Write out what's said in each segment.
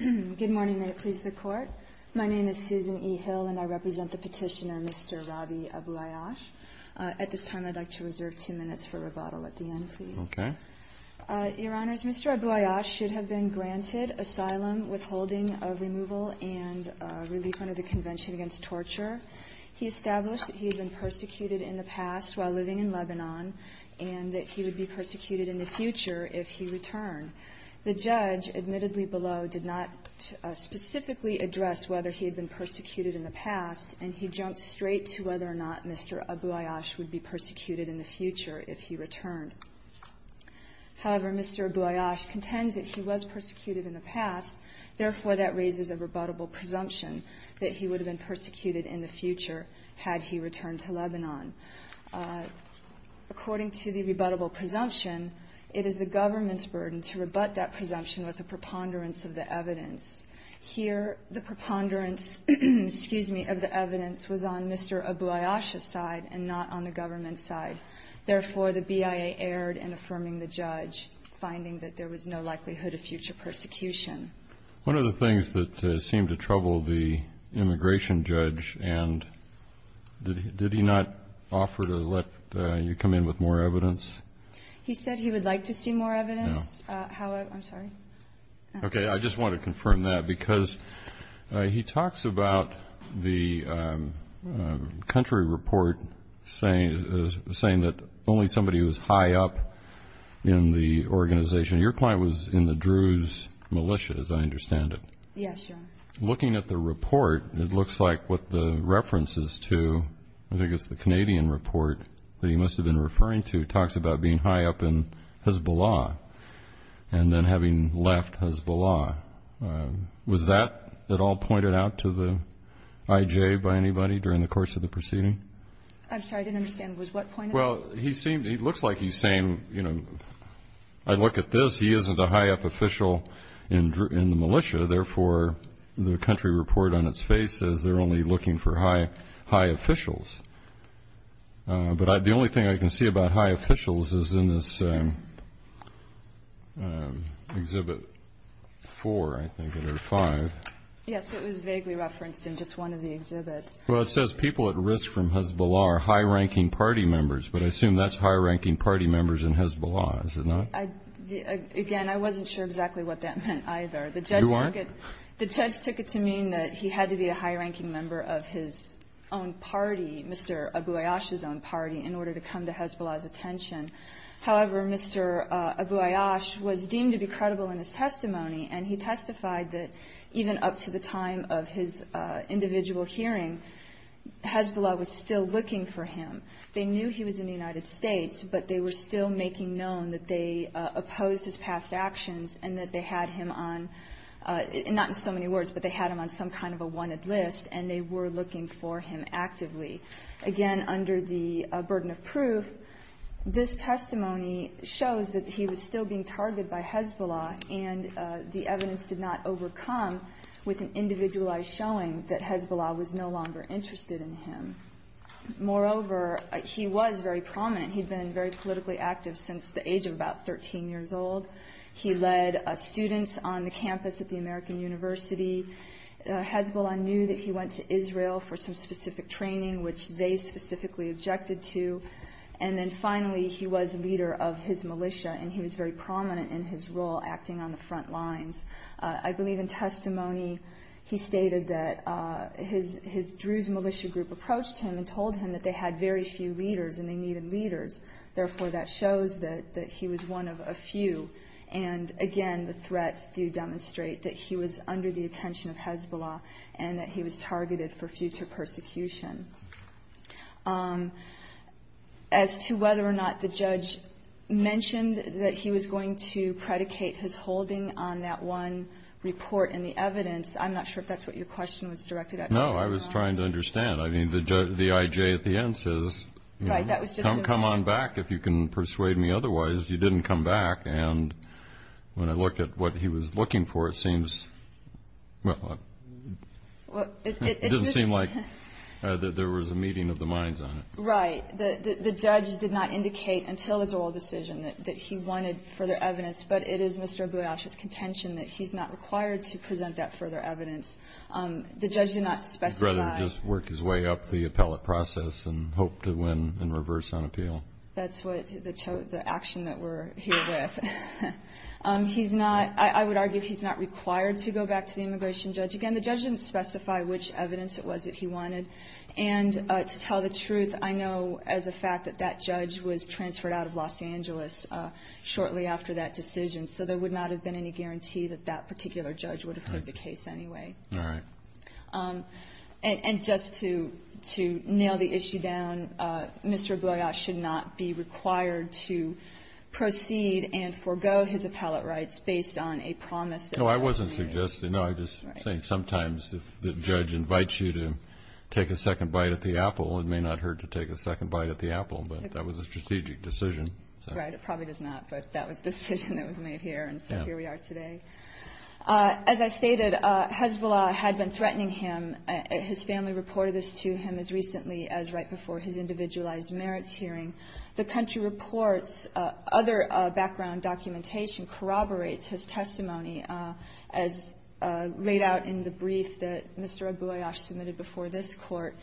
Good morning, may it please the Court. My name is Susan E. Hill and I represent the petitioner Mr. Rabi Abouayash. At this time, I'd like to reserve two minutes for rebuttal at the end, please. Okay. Your Honors, Mr. Abouayash should have been granted asylum, withholding of removal, and relief under the Convention Against Torture. He established that he had been persecuted in the past while living in Lebanon and that he would be persecuted in the future if he returned. The judge, admittedly below, did not specifically address whether he had been persecuted in the past, and he jumped straight to whether or not Mr. Abouayash would be persecuted in the future if he returned. However, Mr. Abouayash contends that he was persecuted in the past. Therefore, that raises a rebuttable presumption that he would have been persecuted in the future had he returned to Lebanon. According to the rebuttable presumption, it is the government's burden to rebut that presumption with a preponderance of the evidence. Here, the preponderance, excuse me, of the evidence was on Mr. Abouayash's side and not on the government's side. Therefore, the BIA erred in affirming the judge, finding that there was no likelihood of future persecution. One of the things that seemed to trouble the immigration judge, and did he not offer to let you come in with more evidence? He said he would like to see more evidence. No. I'm sorry. Okay. I just want to confirm that because he talks about the country report saying that only somebody who was high up in the organization. Your client was in the Druze militia, as I understand it. Yes, Your Honor. Looking at the report, it looks like what the reference is to, I think it's the Canadian report that he must have been referring to, talks about being high up in Hezbollah and then having left Hezbollah. Was that at all pointed out to the IJ by anybody during the course of the proceeding? I'm sorry. I didn't understand. Was what pointed out? Well, it looks like he's saying, you know, I look at this. He isn't a high up official in the militia. Therefore, the country report on its face says they're only looking for high officials. But the only thing I can see about high officials is in this Exhibit 4, I think, or 5. Yes, it was vaguely referenced in just one of the exhibits. Well, it says people at risk from Hezbollah are high-ranking party members, but I assume that's high-ranking party members in Hezbollah, is it not? Again, I wasn't sure exactly what that meant either. You weren't? The judge took it to mean that he had to be a high-ranking member of his own party, Mr. Abu Ayyash's own party, in order to come to Hezbollah's attention. However, Mr. Abu Ayyash was deemed to be credible in his testimony, and he testified that even up to the time of his individual hearing, Hezbollah was still looking for him. They knew he was in the United States, but they were still making known that they opposed his past actions and that they had him on, not in so many words, but they had him on some kind of a wanted list, and they were looking for him actively. Again, under the burden of proof, this testimony shows that he was still being targeted by Hezbollah and the evidence did not overcome with an individualized showing that Hezbollah was no longer interested in him. Moreover, he was very prominent. He'd been very politically active since the age of about 13 years old. He led students on the campus at the American University. Hezbollah knew that he went to Israel for some specific training, which they specifically objected to. And then finally, he was leader of his militia, and he was very prominent in his role acting on the front lines. I believe in testimony he stated that his Druze militia group approached him and told him that they had very few leaders and they needed leaders. Therefore, that shows that he was one of a few. And again, the threats do demonstrate that he was under the attention of Hezbollah and that he was targeted for future persecution. As to whether or not the judge mentioned that he was going to predicate his holding on that one report and the evidence, I'm not sure if that's what your question was directed at. No, I was trying to understand. I mean, the I.J. at the end says, come on back if you can persuade me otherwise. You didn't come back. And when I look at what he was looking for, it seems, well, it doesn't seem like that. He said that there was a meeting of the minds on it. Right. The judge did not indicate until his oral decision that he wanted further evidence, but it is Mr. Abu-Yash's contention that he's not required to present that further evidence. The judge did not specify. He'd rather just work his way up the appellate process and hope to win in reverse on appeal. That's the action that we're here with. I would argue he's not required to go back to the immigration judge. Again, the judge didn't specify which evidence it was that he wanted. And to tell the truth, I know as a fact that that judge was transferred out of Los Angeles shortly after that decision, so there would not have been any guarantee that that particular judge would have heard the case anyway. All right. And just to nail the issue down, Mr. Abu-Yash should not be required to proceed and forego his appellate rights based on a promise that was made. No, I wasn't suggesting. No, I'm just saying sometimes if the judge invites you to take a second bite at the apple, it may not hurt to take a second bite at the apple, but that was a strategic decision. Right. It probably does not, but that was the decision that was made here, and so here we are today. As I stated, Hezbollah had been threatening him. His family reported this to him as recently as right before his individualized merits hearing. The country reports other background documentation corroborates his testimony as laid out in the brief that Mr. Abu-Yash submitted before this Court.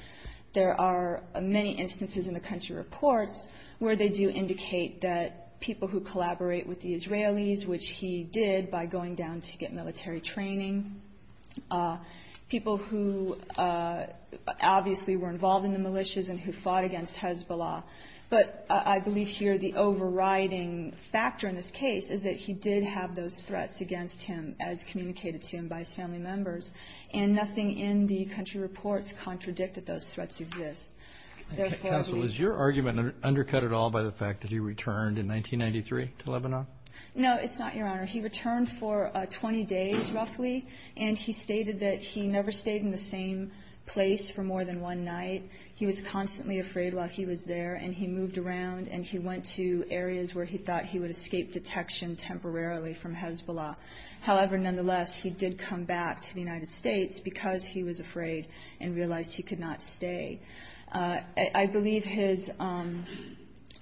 There are many instances in the country reports where they do indicate that people who collaborate with the Israelis, which he did by going down to get military training, people who obviously were involved in the militias and who fought against Hezbollah, but I believe here the overriding factor in this case is that he did have those threats against him as communicated to him by his family members, and nothing in the country reports contradict that those threats exist. Counsel, is your argument undercut at all by the fact that he returned in 1993 to Lebanon? No, it's not, Your Honor. He returned for 20 days roughly, and he stated that he never stayed in the same place for more than one night. He was constantly afraid while he was there, and he moved around, and he went to areas where he thought he would escape detection temporarily from Hezbollah. However, nonetheless, he did come back to the United States because he was afraid and realized he could not stay. I believe his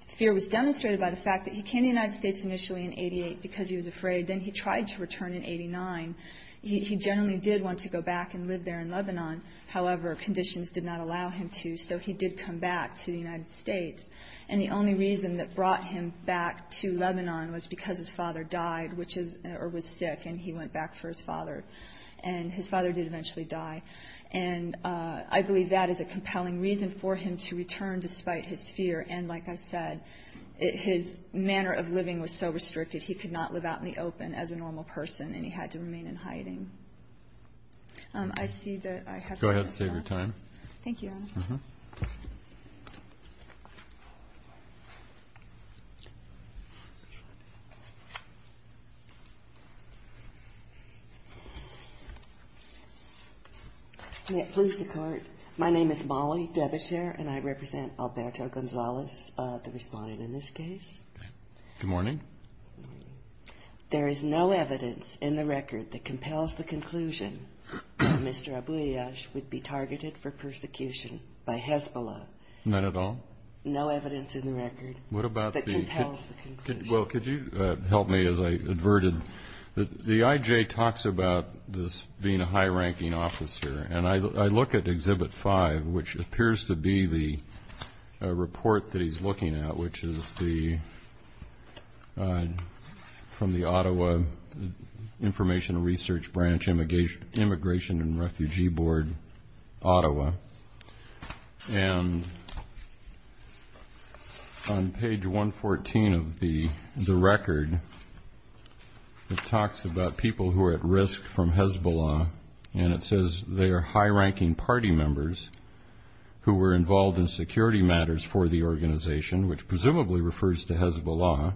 fear was demonstrated by the fact that he came to the United States initially in 88 because he was afraid. Then he tried to return in 89. He generally did want to go back and live there in Lebanon. However, conditions did not allow him to, so he did come back to the United States. And the only reason that brought him back to Lebanon was because his father died, or was sick, and he went back for his father. And his father did eventually die. And I believe that is a compelling reason for him to return despite his fear. And like I said, his manner of living was so restricted, he could not live out in the open as a normal person, and he had to remain in hiding. I see that I have time. Go ahead. Save your time. Thank you, Your Honor. May it please the Court. My name is Molly Debeshare, and I represent Alberto Gonzalez, the respondent in this case. Good morning. There is no evidence in the record that compels the conclusion that Mr. Abouillache would be targeted for persecution by Hezbollah. None at all? No evidence in the record that compels the conclusion. Well, could you help me as I adverted? The IJ talks about this being a high-ranking officer, and I look at Exhibit 5, which appears to be the report that he's looking at, which is from the Ottawa Informational Research Branch Immigration and Refugee Board, Ottawa. And on page 114 of the record, it talks about people who are at risk from Hezbollah, and it says they are high-ranking party members who were involved in security matters for the organization, which presumably refers to Hezbollah,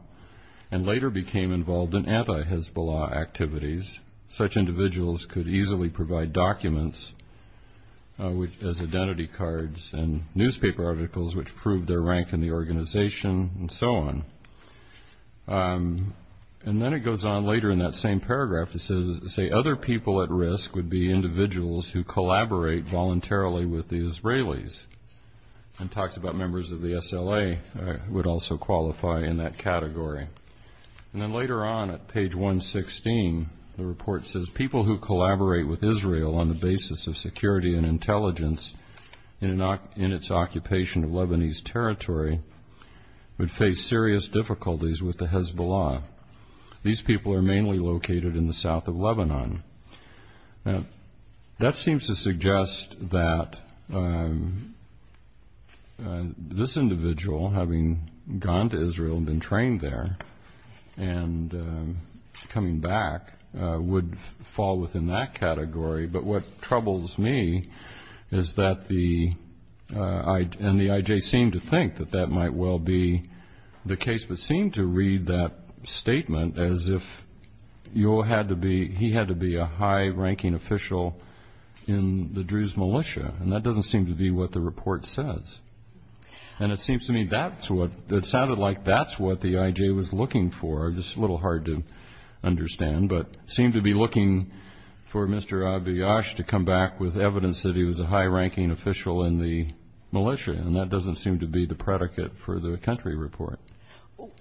and later became involved in anti-Hezbollah activities. Such individuals could easily provide documents as identity cards and newspaper articles, which proved their rank in the organization, and so on. And then it goes on later in that same paragraph. It says other people at risk would be individuals who collaborate voluntarily with the Israelis, and talks about members of the SLA would also qualify in that category. And then later on at page 116, the report says people who collaborate with Israel on the basis of security and intelligence in its occupation of Lebanese territory would face serious difficulties with the Hezbollah. These people are mainly located in the south of Lebanon. Now, that seems to suggest that this individual, having gone to Israel and been trained there, and coming back, would fall within that category. But what troubles me is that the IJ seemed to think that that might well be the case, but seemed to read that statement as if he had to be a high-ranking official in the Druze militia, and that doesn't seem to be what the report says. And it seems to me that sounded like that's what the IJ was looking for. It's a little hard to understand, but seemed to be looking for Mr. Abiyash to come back with evidence that he was a high-ranking official in the militia, and that doesn't seem to be the predicate for the country report.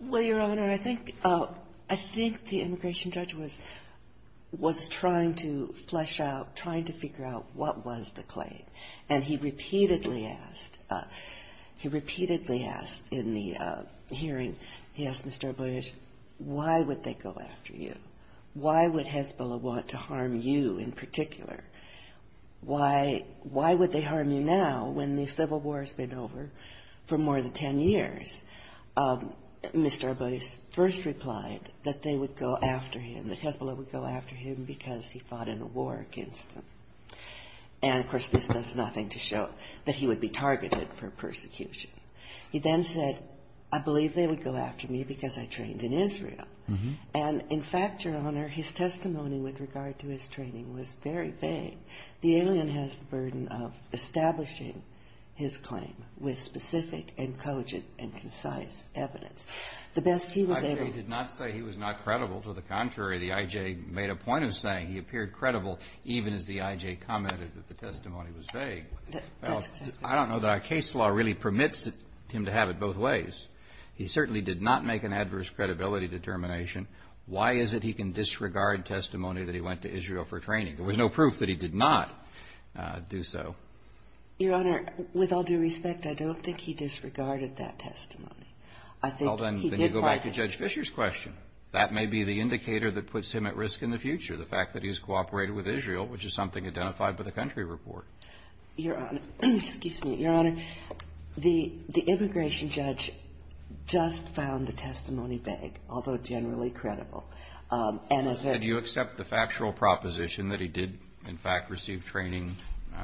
Well, Your Honor, I think the immigration judge was trying to flesh out, trying to figure out what was the claim. And he repeatedly asked, he repeatedly asked in the hearing, he asked Mr. Abiyash, why would they go after you? Why would Hezbollah want to harm you in particular? Why would they harm you now when the civil war has been over for more than ten years? Mr. Abiyash first replied that they would go after him, that Hezbollah would go after him because he fought in a war against them. And, of course, this does nothing to show that he would be targeted for persecution. He then said, I believe they would go after me because I trained in Israel. And, in fact, Your Honor, his testimony with regard to his training was very vague. The alien has the burden of establishing his claim with specific and cogent and concise evidence. The best he was able to do. The I.J. did not say he was not credible. To the contrary, the I.J. made a point of saying he appeared credible, even as the I.J. commented that the testimony was vague. I don't know that our case law really permits him to have it both ways. He certainly did not make an adverse credibility determination. Why is it he can disregard testimony that he went to Israel for training? There was no proof that he did not do so. Your Honor, with all due respect, I don't think he disregarded that testimony. I think he did provide that. Well, then you go back to Judge Fischer's question. That may be the indicator that puts him at risk in the future, the fact that he's cooperated with Israel, which is something identified by the country report. Your Honor, excuse me. Your Honor, the immigration judge just found the testimony vague, although generally credible. And as a ---- So did you accept the factual proposition that he did, in fact, receive training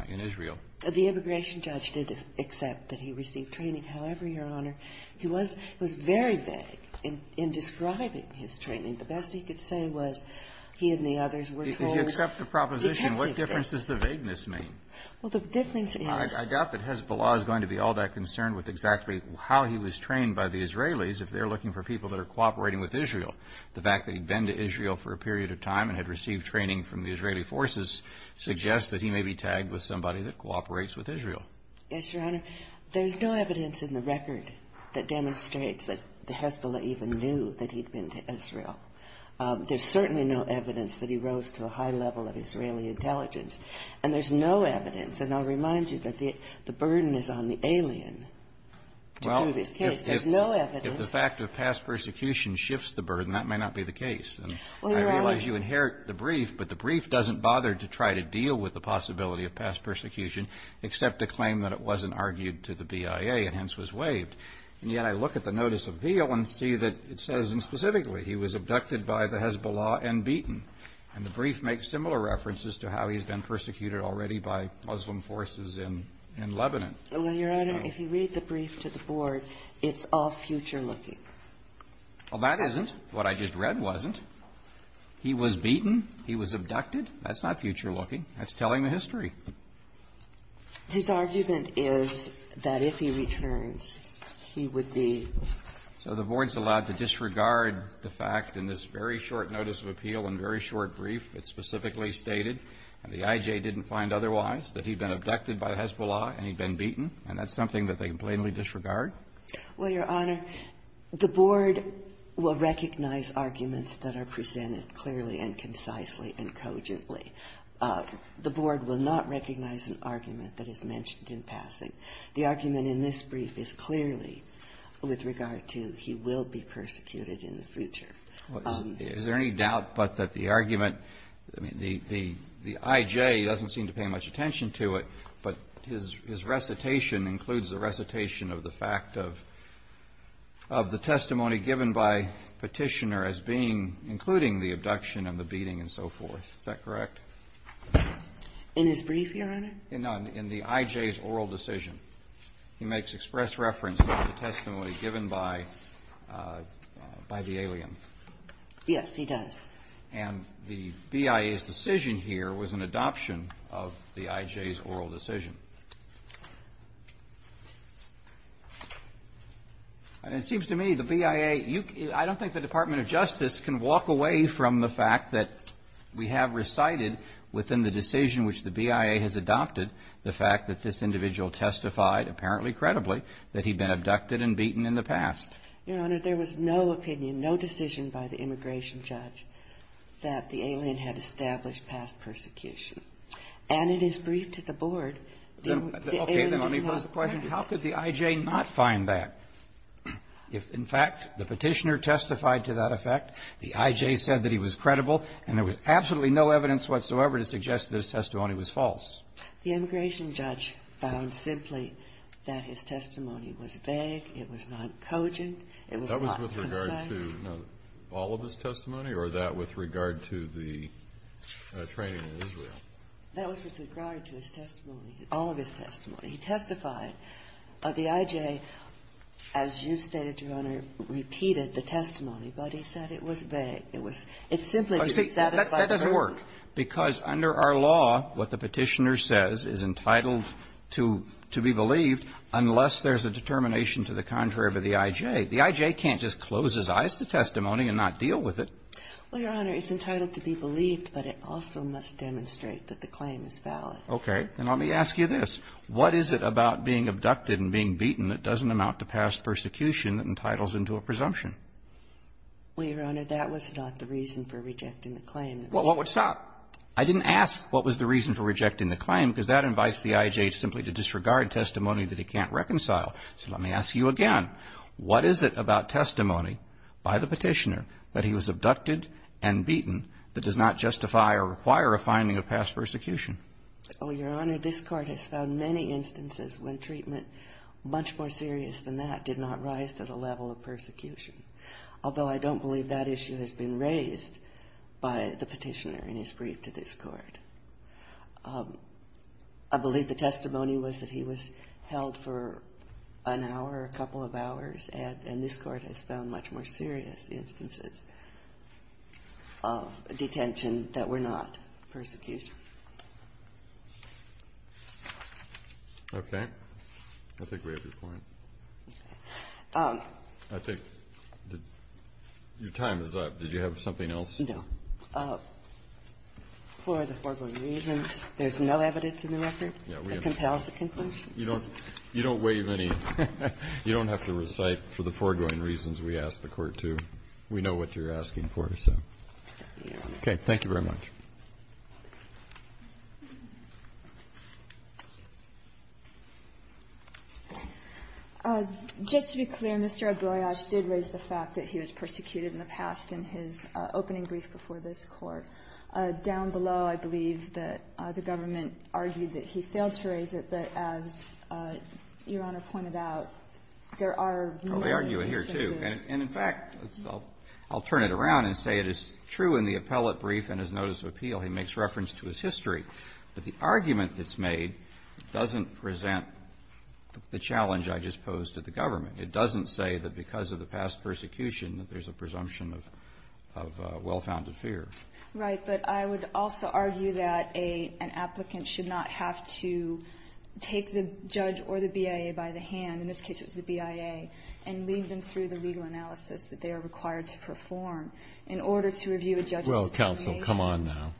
in Israel? The immigration judge did accept that he received training. However, Your Honor, he was very vague in describing his training. The best he could say was he and the others were told ---- If you accept the proposition, what difference does the vagueness make? Well, the difference is ---- I doubt that Hezbollah is going to be all that concerned with exactly how he was trained by the Israelis if they're looking for people that are cooperating with Israel. The fact that he'd been to Israel for a period of time and had received training from the Israeli forces suggests that he may be tagged with somebody that cooperates with Israel. Yes, Your Honor. There's no evidence in the record that demonstrates that Hezbollah even knew that he'd been to Israel. There's certainly no evidence that he rose to a high level of Israeli intelligence. And there's no evidence. And I'll remind you that the burden is on the alien to prove his case. There's no evidence. Well, if the fact of past persecution shifts the burden, that may not be the case. Well, Your Honor ---- And I realize you inherit the brief, but the brief doesn't bother to try to deal with the possibility of past persecution except to claim that it wasn't argued to the BIA and hence was waived. And yet I look at the notice of appeal and see that it says, and specifically, he was abducted by the Hezbollah and beaten. And the brief makes similar references to how he's been persecuted already by Muslim forces in Lebanon. Well, Your Honor, if you read the brief to the Board, it's all future-looking. Well, that isn't. What I just read wasn't. He was beaten. He was abducted. That's not future-looking. That's telling the history. His argument is that if he returns, he would be ---- So the Board's allowed to disregard the fact in this very short notice of appeal and very short brief that specifically stated that the IJ didn't find otherwise, that he'd been abducted by the Hezbollah and he'd been beaten. And that's something that they can plainly disregard? Well, Your Honor, the Board will recognize arguments that are presented clearly and concisely and cogently. The Board will not recognize an argument that is mentioned in passing. The argument in this brief is clearly with regard to he will be persecuted in the future. Is there any doubt but that the argument, the IJ doesn't seem to pay much attention to it, but his recitation includes the recitation of the fact of the testimony given by Petitioner as being including the abduction and the beating and so forth. Is that correct? In his brief, Your Honor? No, in the IJ's oral decision. He makes express reference to the testimony given by the alien. Yes, he does. And the BIA's decision here was an adoption of the IJ's oral decision. And it seems to me the BIA, I don't think the Department of Justice can walk away from the fact that we have recited within the decision which the BIA has adopted the fact that this individual testified, apparently credibly, that he'd been abducted and beaten in the past. Your Honor, there was no opinion, no decision by the immigration judge that the alien had established past persecution. And in his brief to the Board, the alien did not. Okay. Then let me pose the question, how could the IJ not find that? If, in fact, the Petitioner testified to that effect, the IJ said that he was credible, and there was absolutely no evidence whatsoever to suggest that his testimony was false. The immigration judge found simply that his testimony was vague. It was not cogent. It was not concise. That was with regard to all of his testimony or that with regard to the training That was with regard to his testimony, all of his testimony. He testified. The IJ, as you stated, Your Honor, repeated the testimony, but he said it was vague. It was – it simply didn't satisfy the burden. That doesn't work, because under our law, what the Petitioner says is entitled to be believed unless there's a determination to the contrary of the IJ. The IJ can't just close his eyes to testimony and not deal with it. Well, Your Honor, it's entitled to be believed, but it also must demonstrate that the claim is valid. Okay. Then let me ask you this. What is it about being abducted and being beaten that doesn't amount to past persecution that entitles into a presumption? Well, Your Honor, that was not the reason for rejecting the claim. Well, what's not? I didn't ask what was the reason for rejecting the claim, because that invites the IJ simply to disregard testimony that he can't reconcile. So let me ask you again. What is it about testimony by the Petitioner that he was abducted and beaten that does not justify or require a finding of past persecution? Oh, Your Honor, this Court has found many instances when treatment much more serious than that did not rise to the level of persecution. Although I don't believe that issue has been raised by the Petitioner in his brief to this Court. I believe the testimony was that he was held for an hour, a couple of hours, and this Court has found much more serious instances of detention that were not persecution. Okay. I think we have your point. Okay. I think your time is up. Did you have something else? No. For the foregoing reasons, there's no evidence in the record that compels a conclusion. You don't waive any. You don't have to recite for the foregoing reasons we asked the Court to. We know what you're asking for, so. Okay. Thank you very much. Just to be clear, Mr. Agbroyage did raise the fact that he was persecuted in the past in his opening brief before this Court. Down below, I believe that the government argued that he failed to raise it, but as Your Honor pointed out, there are real instances. Well, they argue it here, too. And in fact, I'll turn it around and say it is true in the appellate brief and his notice of appeal. He makes reference to his history, but the argument that's made doesn't present the challenge I just posed to the government. It doesn't say that because of the past persecution that there's a presumption of well-founded fear. Right. But I would also argue that an applicant should not have to take the judge or the BIA by the hand, in this case it was the BIA, and lead them through the legal analysis that they are required to perform in order to review a judge's determination. Well, counsel, come on now.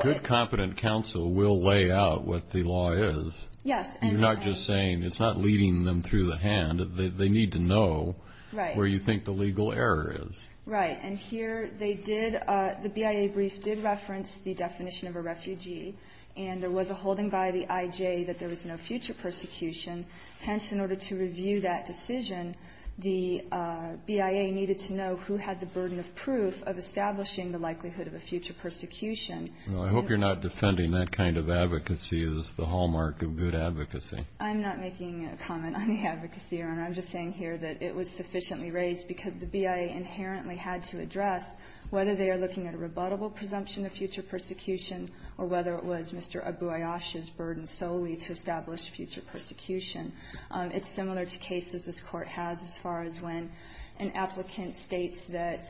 Good, competent counsel will lay out what the law is. Yes. You're not just saying it's not leading them through the hand. They need to know where you think the legal error is. Right. And here they did, the BIA brief did reference the definition of a refugee, and there was a holding by the IJ that there was no future persecution. Hence, in order to review that decision, the BIA needed to know who had the burden of proof of establishing the likelihood of a future persecution. Well, I hope you're not defending that kind of advocacy as the hallmark of good advocacy. I'm not making a comment on the advocacy, Your Honor. I'm just saying here that it was sufficiently raised because the BIA inherently had to address whether they are looking at a rebuttable presumption of future persecution or whether it was Mr. Abu Ayyash's burden solely to establish future persecution. It's similar to cases this Court has as far as when an applicant states that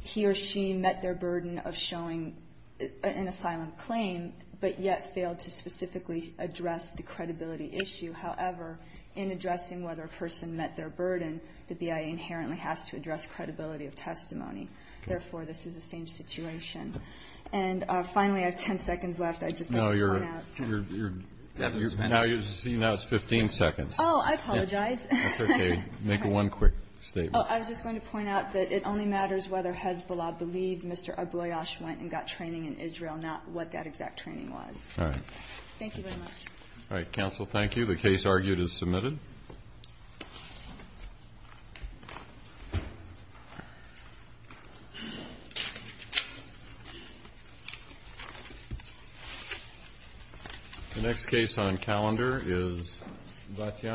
he or she met their burden of showing an asylum claim, but yet failed to specifically address the credibility issue. However, in addressing whether a person met their burden, the BIA inherently has to address credibility of testimony. Therefore, this is the same situation. And finally, I have 10 seconds left. I'd just like to point out. No, you're, you're, you're, now you're, see, now it's 15 seconds. Oh, I apologize. That's okay. Make one quick statement. Oh, I was just going to point out that it only matters whether Hezbollah believed Mr. Abu Ayyash went and got training in Israel, not what that exact training was. All right. Thank you very much. All right. Counsel, thank you. The case argued is submitted.